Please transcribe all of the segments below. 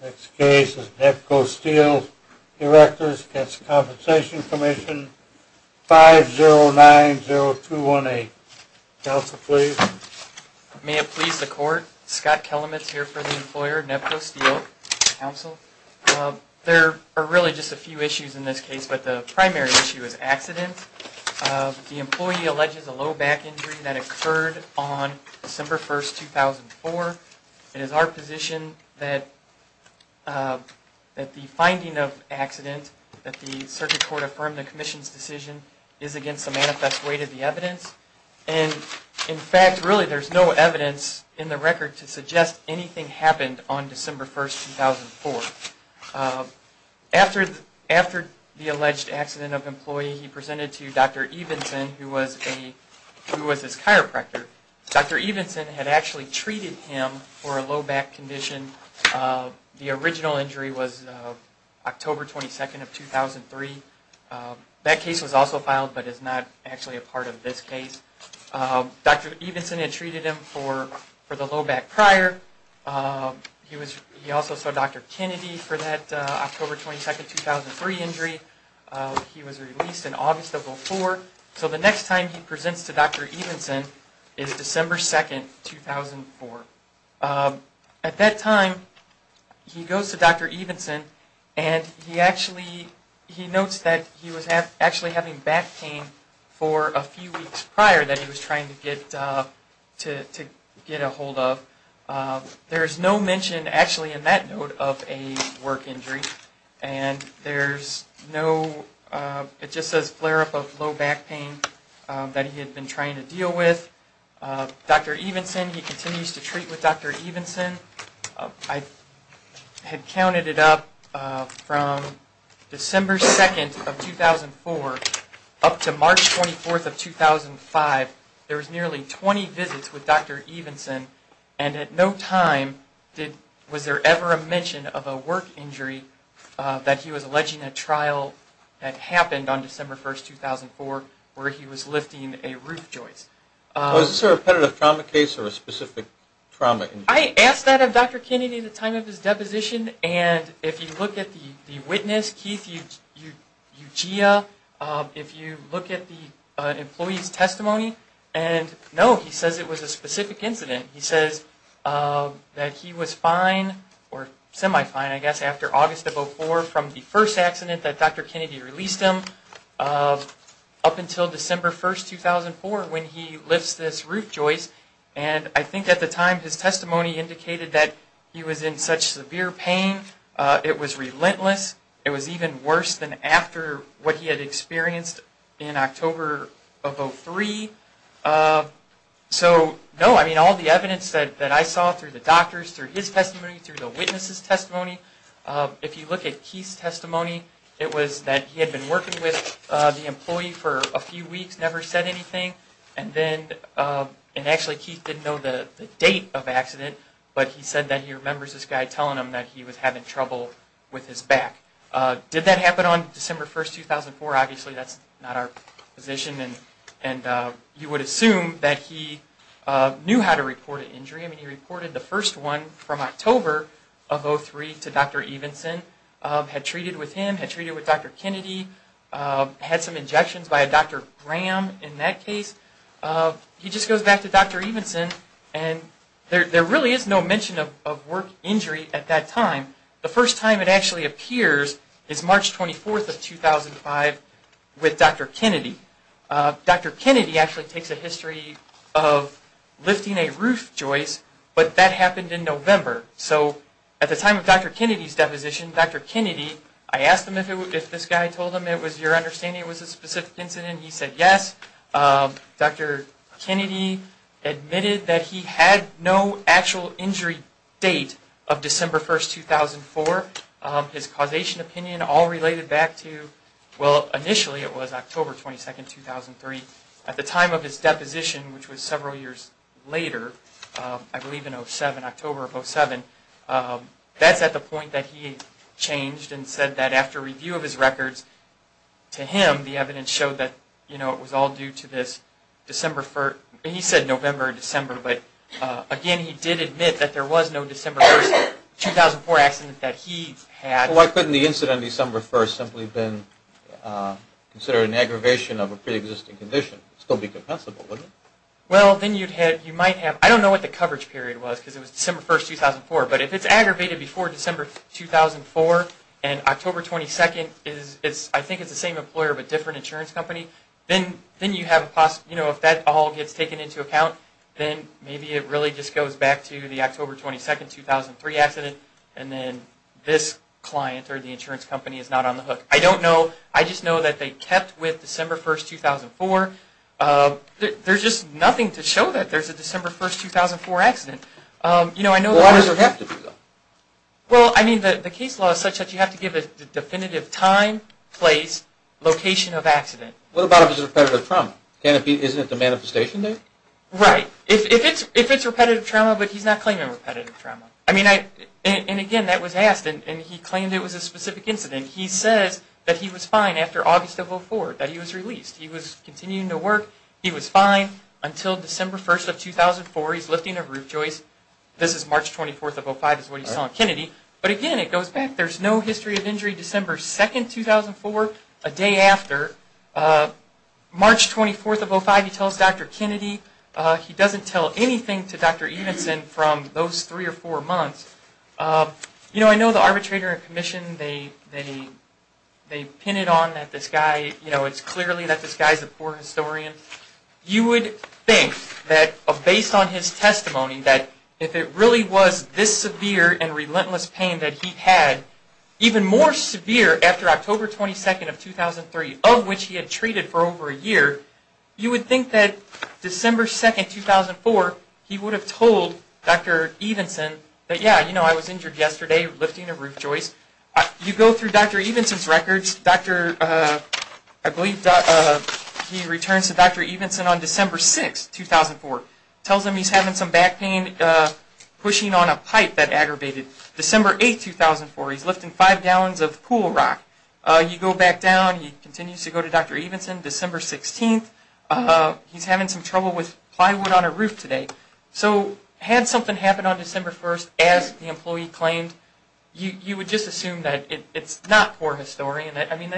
Next case is Nebco Steel Erectors v. Workers' Compensation Comm'n, 5-0-9-0-2-1-A. Counsel, please. May it please the Court, Scott Kelametz here for the employer, Nebco Steel, Counsel. There are really just a few issues in this case, but the primary issue is accident. The employee alleges a low back injury that occurred on December 1, 2004. It is our position that the finding of accident, that the Circuit Court affirm the Commission's decision, is against the manifest weight of the evidence. And, in fact, really there's no evidence in the record to suggest anything happened on December 1, 2004. After the alleged accident of employee, he presented to Dr. Evenson, who was his chiropractor. Dr. Evenson had actually treated him for a low back condition. The original injury was October 22, 2003. That case was also filed, but is not actually a part of this case. Dr. Evenson had treated him for the low back prior. He also saw Dr. Kennedy for that October 22, 2003 injury. He was released in August of 2004. So the next time he presents to Dr. Evenson is December 2, 2004. At that time, he goes to Dr. Evenson and he actually, he notes that he was actually having back pain for a few weeks prior that he was trying to get a hold of. There's no mention actually in that note of a work injury. And there's no, it just says flare up of low back pain that he had been trying to deal with. Dr. Evenson, he continues to treat with Dr. Evenson. I had counted it up from December 2, 2004 up to March 24, 2005. There was nearly 20 visits with Dr. Evenson. And at no time was there ever a mention of a work injury that he was alleging a trial that happened on December 1, 2004 where he was lifting a roof joist. Was this a repetitive trauma case or a specific trauma injury? I asked that of Dr. Kennedy at the time of his deposition. And if you look at the witness, Keith Ugia, if you look at the employee's testimony, and no, he says it was a specific incident. He says that he was fine or semi-fine, I guess, after August of 2004 from the first accident that Dr. Kennedy released him up until December 1, 2004 when he lifts this roof joist. And I think at the time his testimony indicated that he was in such severe pain it was relentless. It was even worse than after what he had experienced in October of 2003. So, no, I mean, all the evidence that I saw through the doctor's, through his testimony, through the witness's testimony. If you look at Keith's testimony, it was that he had been working with the employee for a few weeks, never said anything. And then, and actually Keith didn't know the date of accident, but he said that he remembers this guy telling him that he was having trouble with his back. Did that happen on December 1, 2004? Obviously, that's not our position. And you would assume that he knew how to report an injury. I mean, he reported the first one from October of 2003 to Dr. Evenson, had treated with him, had treated with Dr. Kennedy, had some injections by a Dr. Graham in that case. He just goes back to Dr. Evenson and there really is no mention of work injury at that time. The first time it actually appears is March 24, 2005 with Dr. Kennedy. Dr. Kennedy actually takes a history of lifting a roof joist, but that happened in November. So, at the time of Dr. Kennedy's deposition, Dr. Kennedy, I asked him if this guy told him it was your understanding it was a specific incident. He said yes. Dr. Kennedy admitted that he had no actual injury date of December 1, 2004. His causation opinion all related back to, well, initially it was October 22, 2003. At the time of his deposition, which was several years later, I believe in October of 2007, that's at the point that he changed and said that after review of his records to him, the evidence showed that it was all due to this December 1, he said November or December, but again he did admit that there was no December 1, 2004 accident that he had. Well, why couldn't the incident on December 1 simply have been considered an aggravation of a preexisting condition? It would still be compensable, wouldn't it? Well, then you might have, I don't know what the coverage period was because it was December 1, 2004, but if it's aggravated before December 2004 and October 22, I think it's the same employer but different insurance company, then you have a possible, you know, if that all gets taken into account, then maybe it really just goes back to the October 22, 2003 accident, and then this client or the insurance company is not on the hook. I don't know. I just know that they kept with December 1, 2004. There's just nothing to show that there's a December 1, 2004 accident. You know, I know that... Well, why does it have to be, though? Well, I mean, the case law is such that you have to give a definitive time, place, location of accident. What about if it's a repetitive trauma? Isn't it the manifestation date? Right. If it's repetitive trauma, but he's not claiming repetitive trauma. I mean, and again, that was asked, and he claimed it was a specific incident. He says that he was fine after August of 2004 that he was released. He was continuing to work. He was fine until December 1, 2004. He's lifting a roof joist. This is March 24, 2005 is what he saw in Kennedy, but again, it goes back. There's no history of injury December 2, 2004, a day after. March 24, 2005, he tells Dr. Kennedy. He doesn't tell anything to Dr. Evenson from those three or four months. You know, I know the arbitrator and commission, they pin it on that this guy, you know, it's clearly that this guy's a poor historian. You would think that based on his testimony that if it really was this severe and relentless pain that he had, even more severe after October 22, 2003, of which he had treated for over a year, you would think that December 2, 2004, he would have told Dr. Evenson that, yeah, you know, I was injured yesterday lifting a roof joist. You go through Dr. Evenson's records. I believe he returns to Dr. Evenson on December 6, 2004. Tells him he's having some back pain pushing on a pipe that aggravated. December 8, 2004, he's lifting five gallons of pool rock. You go back down. He continues to go to Dr. Evenson. December 16, he's having some trouble with plywood on a roof today. So had something happened on December 1, as the employee claimed, you would just assume that it's not poor historian. I mean,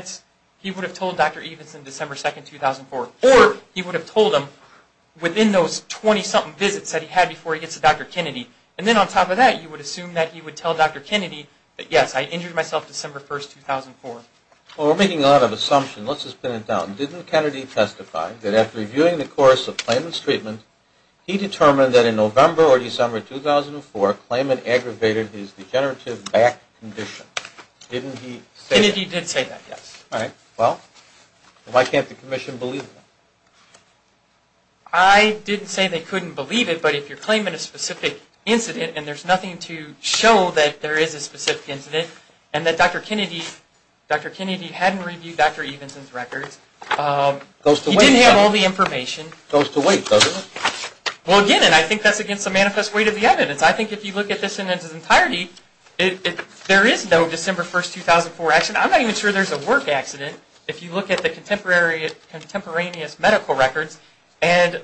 he would have told Dr. Evenson December 2, 2004, or he would have told him within those 20-something visits that he had before he gets to Dr. Kennedy. And then on top of that, you would assume that he would tell Dr. Kennedy that, yes, I injured myself December 1, 2004. Well, we're making a lot of assumptions. Let's just pin it down. Didn't Kennedy testify that after reviewing the course of Klayman's treatment, he determined that in November or December 2004, Klayman aggravated his degenerative back condition? Didn't he say that? Kennedy did say that, yes. All right. Well, why can't the commission believe that? I didn't say they couldn't believe it, but if you're claiming a specific incident and there's nothing to show that there is a specific incident, and that Dr. Kennedy hadn't reviewed Dr. Evenson's records, he didn't have all the information. Goes to wait, doesn't it? Well, again, and I think that's against the manifest weight of the evidence. I think if you look at this in its entirety, there is no December 1, 2004 accident. I'm not even sure there's a work accident. If you look at the contemporaneous medical records, and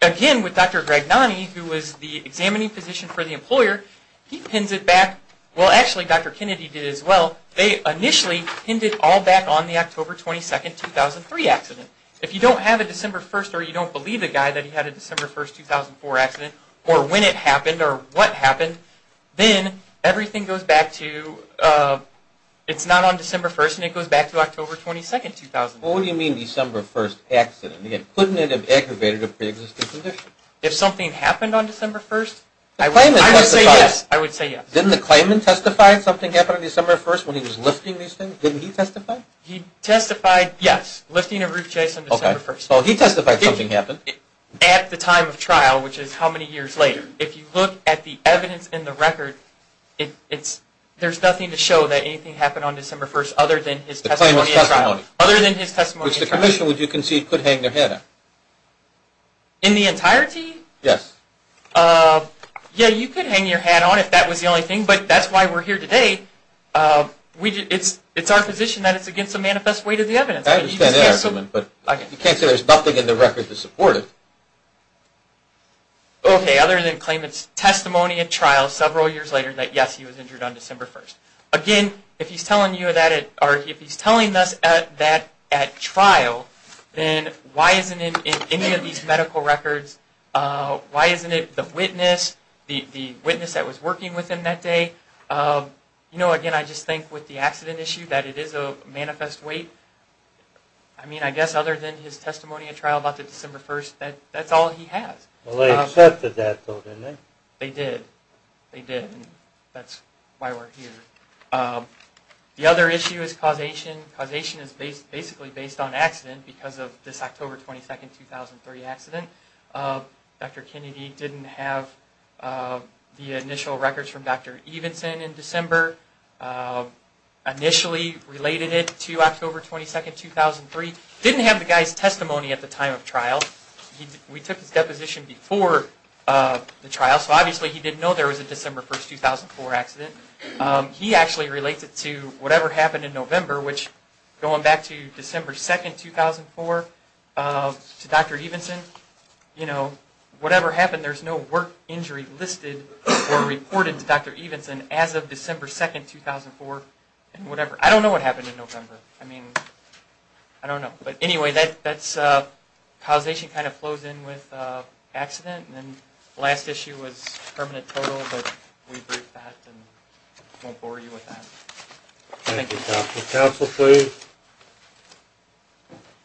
again, with Dr. Gragnani, who was the examining physician for the employer, he pins it back. Well, actually, Dr. Kennedy did as well. They initially pinned it all back on the October 22, 2003 accident. If you don't have a December 1 or you don't believe the guy that he had a December 1, 2004 accident, or when it happened or what happened, then everything goes back to, it's not on December 1 and it goes back to October 22, 2004. What do you mean December 1 accident? Again, couldn't it have aggravated a preexisting condition? If something happened on December 1, I would say yes. Didn't the claimant testify that something happened on December 1 when he was lifting these things? Didn't he testify? He testified, yes, lifting a roof chaise on December 1. So he testified something happened. At the time of trial, which is how many years later. If you look at the evidence in the record, there's nothing to show that anything happened on December 1 other than his testimony at trial. The claimant's testimony. Other than his testimony at trial. Which the commission, would you concede, could hang their hat on? In the entirety? Yes. Yeah, you could hang your hat on if that was the only thing, but that's why we're here today. It's our position that it's against the manifest weight of the evidence. I understand that argument, but you can't say there's nothing in the record to support it. Okay, other than the claimant's testimony at trial several years later, that yes, he was injured on December 1. Again, if he's telling us that at trial, then why isn't it in any of these medical records? Why isn't it the witness, the witness that was working with him that day? You know, again, I just think with the accident issue, that it is a manifest weight. I mean, I guess other than his testimony at trial about the December 1, that's all he has. Well, they accepted that, though, didn't they? They did. They did, and that's why we're here. The other issue is causation. Causation is basically based on accident because of this October 22, 2003 accident. Dr. Kennedy didn't have the initial records from Dr. Evenson in December. Initially related it to October 22, 2003. Didn't have the guy's testimony at the time of trial. We took his deposition before the trial, so obviously he didn't know there was a December 1, 2004 accident. He actually related it to whatever happened in November, which going back to December 2, 2004, to Dr. Evenson, you know, whatever happened, there's no work injury listed or reported to Dr. Evenson as of December 2, 2004, and whatever. I don't know what happened in November. I mean, I don't know. But anyway, causation kind of flows in with accident, and then the last issue was permanent total, but we briefed that and won't bore you with that. Thank you. Counsel, please.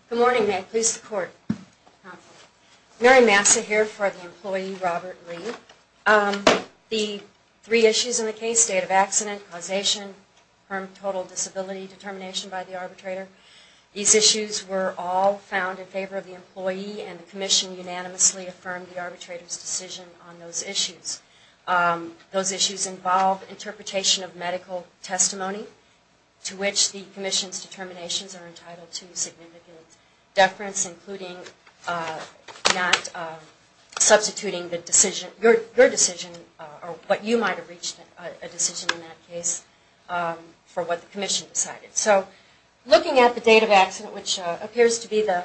Good morning, Matt. Please support. Mary Massa here for the employee, Robert Lee. The three issues in the case, state of accident, causation, permanent total, disability determination by the arbitrator, these issues were all found in favor of the employee, and the commission unanimously affirmed the arbitrator's decision on those issues. Those issues involve interpretation of medical testimony, to which the commission's determinations are entitled to significant deference, including not substituting the decision, your decision, or what you might have reached a decision in that case for what the commission decided. So looking at the date of accident, which appears to be the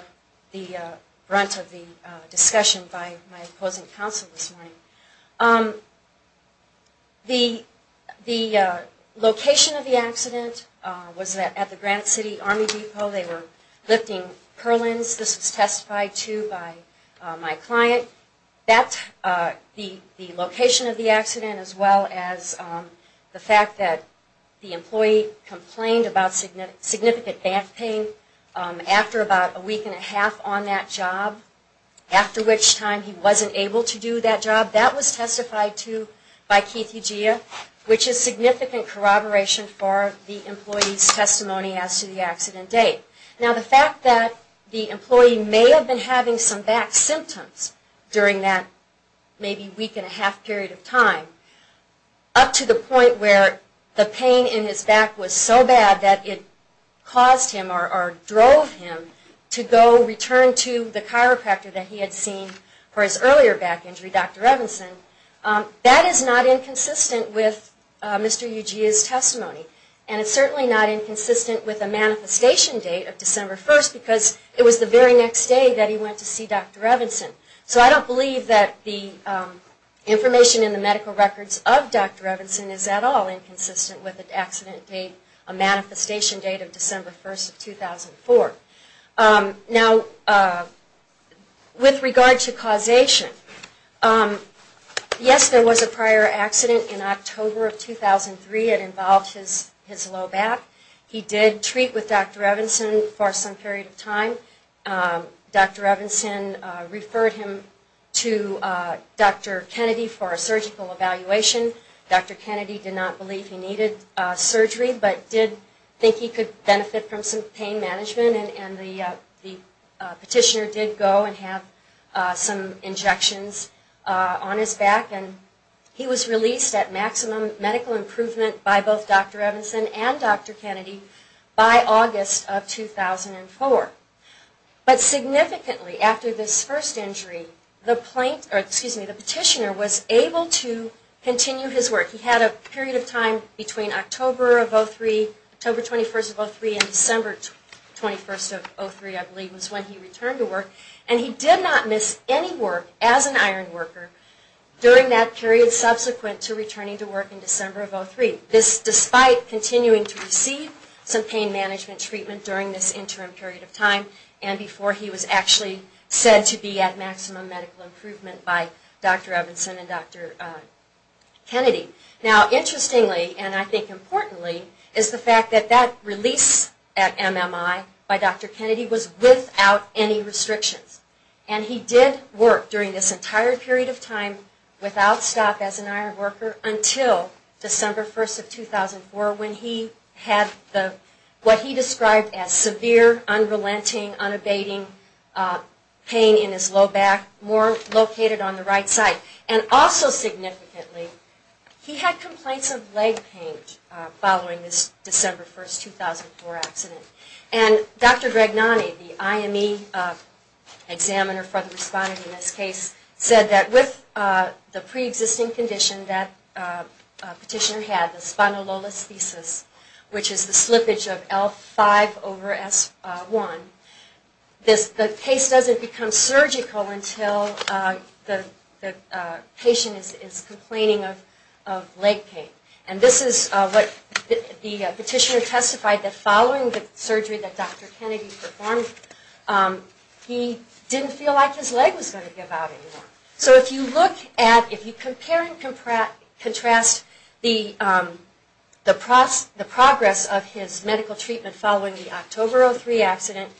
brunt of the discussion by my opposing counsel this morning, the location of the accident was at the Grant City Army Depot. They were lifting purlins. This was testified to by my client. The location of the accident, as well as the fact that the employee complained about significant back pain after about a week and a half on that job, after which time he wasn't able to do that job, that was testified to by Keith Ugia, which is significant corroboration for the employee's testimony as to the accident date. Now the fact that the employee may have been having some back symptoms during that maybe week and a half period of time, up to the point where the pain in his back was so bad that it caused him or drove him to go return to the chiropractor that he had seen for his earlier back injury, Dr. Revenson, that is not inconsistent with Mr. Ugia's testimony. And it's certainly not inconsistent with the manifestation date of December 1st because it was the very next day that he went to see Dr. Revenson. So I don't believe that the information in the medical records of Dr. Revenson is at all inconsistent with the accident date, a manifestation date of December 1st of 2004. Now with regard to causation, yes, there was a prior accident in October of 2003. It involved his low back. He did treat with Dr. Revenson for some period of time. Dr. Revenson referred him to Dr. Kennedy for a surgical evaluation. Dr. Kennedy did not believe he needed surgery, but did think he could benefit from some pain management. And the petitioner did go and have some injections on his back. And he was released at maximum medical improvement by both Dr. Revenson and Dr. Kennedy by August of 2004. But significantly after this first injury, the petitioner was able to continue his work. He had a period of time between October of 2003, October 21st of 2003, and December 21st of 2003, I believe, was when he returned to work. And he did not miss any work as an iron worker during that period subsequent to returning to work in December of 2003. This despite continuing to receive some pain management treatment during this interim period of time and before he was actually said to be at maximum medical improvement by Dr. Revenson and Dr. Kennedy. Now interestingly, and I think importantly, is the fact that that release at MMI by Dr. Kennedy was without any restrictions. And he did work during this entire period of time without stop as an iron worker until December 1st of 2004 when he had what he described as severe, unrelenting, unabating pain in his low back more located on the right side. And also significantly, he had complaints of leg pain following this December 1st, 2004 accident. And Dr. Dragnani, the IME examiner for the respondent in this case, said that with the pre-existing condition that petitioner had, the spondylolisthesis, which is the slippage of L5 over S1, the case doesn't become surgical until the patient is complaining of leg pain. And this is what the petitioner testified that following the surgery that Dr. Kennedy performed, he didn't feel like his leg was going to give out anymore. So if you look at, if you compare and contrast the progress of his medical treatment following the October of 2003 accident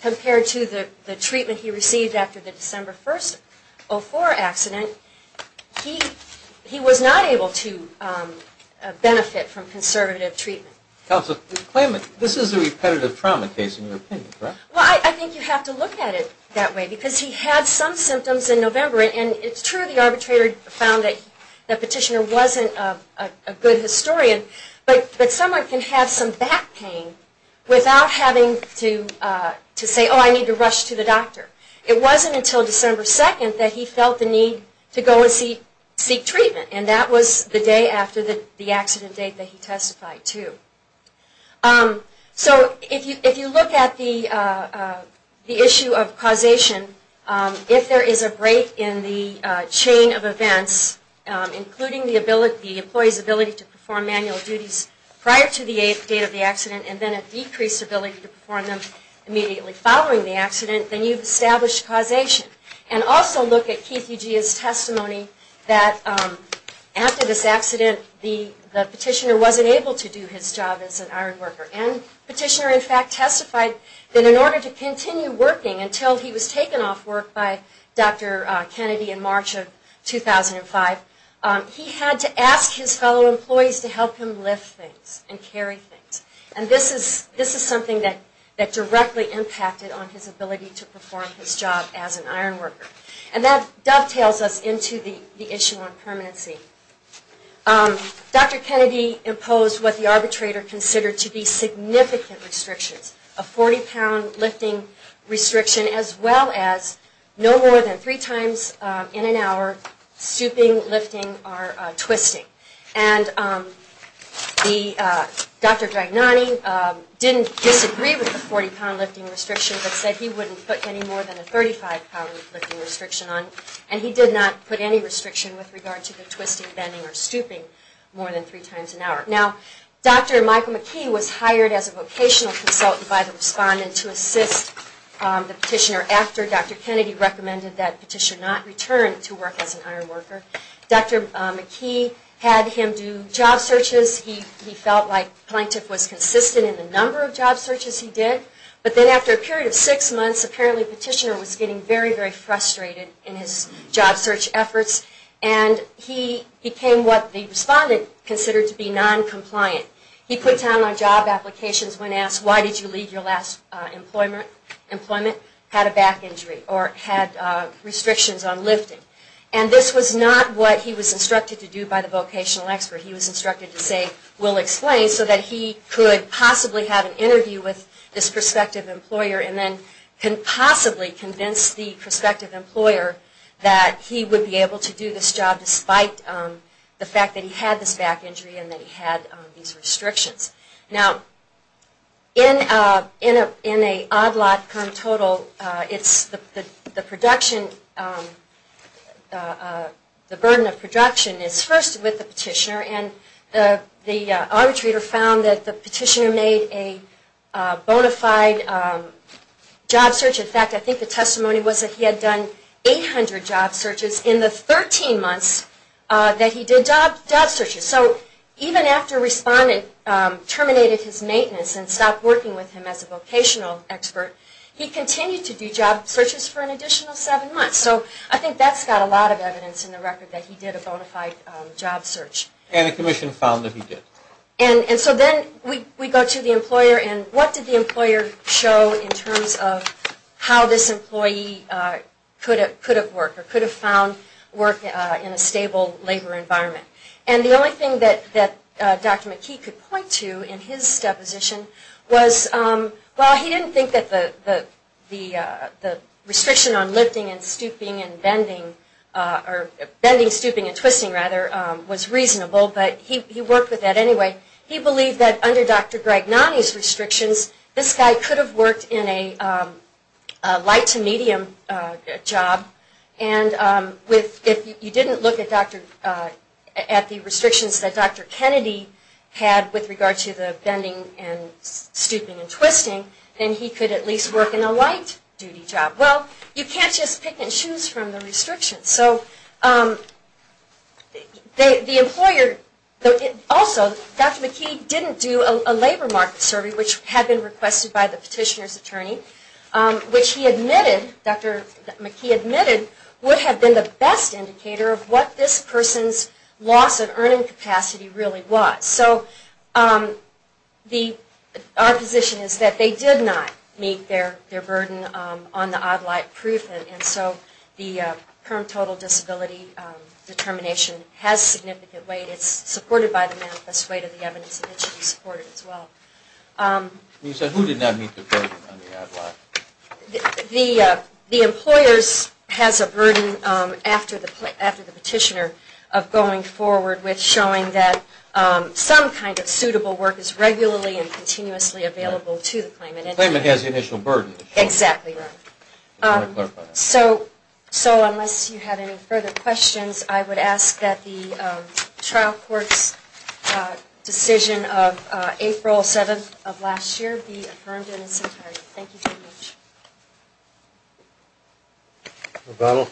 compared to the treatment he received after the December 1st, 2004 accident, he was not able to benefit from conservative treatment. Counsel, this claimant, this is a repetitive trauma case in your opinion, correct? Well, I think you have to look at it that way because he had some symptoms in November and it's true the arbitrator found that the petitioner wasn't a good historian, but someone can have some back pain without having to say, oh, I need to rush to the doctor. It wasn't until December 2nd that he felt the need to go and seek treatment and that was the day after the accident date that he testified to. So if you look at the issue of causation, if there is a break in the chain of events, including the employee's ability to perform manual duties prior to the eighth date of the accident and then a decreased ability to perform them immediately following the accident, then you've established causation. And also look at Keith Eugea's testimony that after this accident, the petitioner wasn't able to do his job as an iron worker. And the petitioner in fact testified that in order to continue working until he was taken off work by Dr. Kennedy in March of 2005, he had to ask his fellow employees to help him lift things and carry things. And this is something that directly impacted on his ability to perform his job as an iron worker. And that dovetails us into the issue of permanency. Dr. Kennedy imposed what the arbitrator considered to be significant restrictions, a 40-pound lifting restriction as well as no more than three times in an hour, stooping, lifting, or twisting. And Dr. Dragnani didn't disagree with the 40-pound lifting restriction but said he wouldn't put any more than a 35-pound lifting restriction on. And he did not put any restriction with regard to the twisting, bending, or stooping more than three times an hour. Now, Dr. Michael McKee was hired as a vocational consultant by the respondent to assist the petitioner. After Dr. Kennedy recommended that the petitioner not return to work as an iron worker, Dr. McKee had him do job searches. He felt like Plaintiff was consistent in the number of job searches he did. But then after a period of six months, apparently the petitioner was getting very, very frustrated in his job search efforts. And he became what the respondent considered to be non-compliant. He put down on job applications when asked, why did you leave your last employment? Had a back injury or had restrictions on lifting. And this was not what he was instructed to do by the vocational expert. He was instructed to say, we'll explain, so that he could possibly have an interview with this prospective employer and then can possibly convince the prospective employer that he would be able to do this job despite the fact that he had this back injury and that he had these restrictions. Now, in an odd lot term total, the burden of production is first with the petitioner. And the arbitrator found that the petitioner made a bona fide job search. In fact, I think the testimony was that he had done 800 job searches in the 13 months that he did job searches. So even after respondent terminated his maintenance and stopped working with him as a vocational expert, he continued to do job searches for an additional seven months. So I think that's got a lot of evidence in the record that he did a bona fide job search. And the commission found that he did. And so then we go to the employer, and what did the employer show in terms of how this employee could have worked or could have found work in a stable labor environment? And the only thing that Dr. McKee could point to in his deposition was, well, he didn't think that the restriction on lifting and stooping and bending, or bending, stooping, and twisting, rather, was reasonable, but he worked with that anyway. He believed that under Dr. Greg Nani's restrictions, this guy could have worked in a light to medium job. And if you didn't look at the restrictions that Dr. Kennedy had with regard to the bending and stooping and twisting, then he could at least work in a light duty job. Well, you can't just pick and choose from the restrictions. So the employer also, Dr. McKee didn't do a labor market survey, which he admitted, Dr. McKee admitted, would have been the best indicator of what this person's loss of earning capacity really was. So our position is that they did not meet their burden on the odd light proof, and so the current total disability determination has significant weight. It's supported by the manifest weight of the evidence, and it should be supported as well. You said who did not meet the burden on the odd light? The employers has a burden after the petitioner of going forward with showing that some kind of suitable work is regularly and continuously available to the claimant. The claimant has the initial burden. Exactly right. I want to clarify that. So unless you have any further questions, I would ask that the trial court's decision of April 7th of last year be affirmed in its entirety. Thank you very much. Rebecca?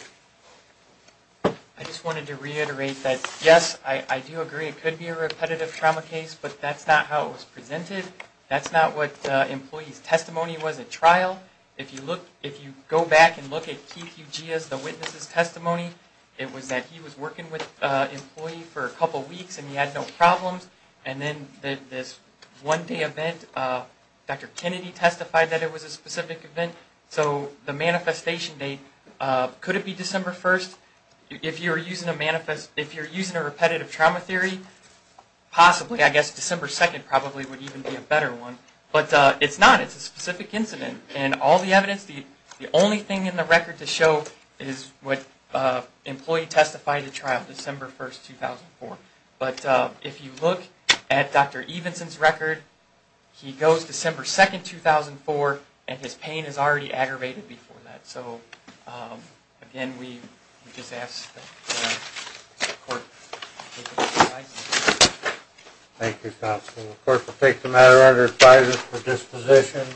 I just wanted to reiterate that, yes, I do agree it could be a repetitive trauma case, but that's not how it was presented. That's not what the employee's testimony was at trial. If you go back and look at Keith Ugia's, the witness's testimony, it was that he was working with an employee for a couple weeks and he had no problems, and then this one day event, Dr. Kennedy testified that it was a specific event. So the manifestation date, could it be December 1st? If you're using a repetitive trauma theory, possibly. I guess December 2nd probably would even be a better one. But it's not. It's a specific incident. And all the evidence, the only thing in the record to show is what employee testified at trial, December 1st, 2004. But if you look at Dr. Evenson's record, he goes December 2nd, 2004, and his pain is already aggravated before that. So, again, we just ask that the court make a decision. Thank you, counsel. The court will take the matter under advisory for disposition.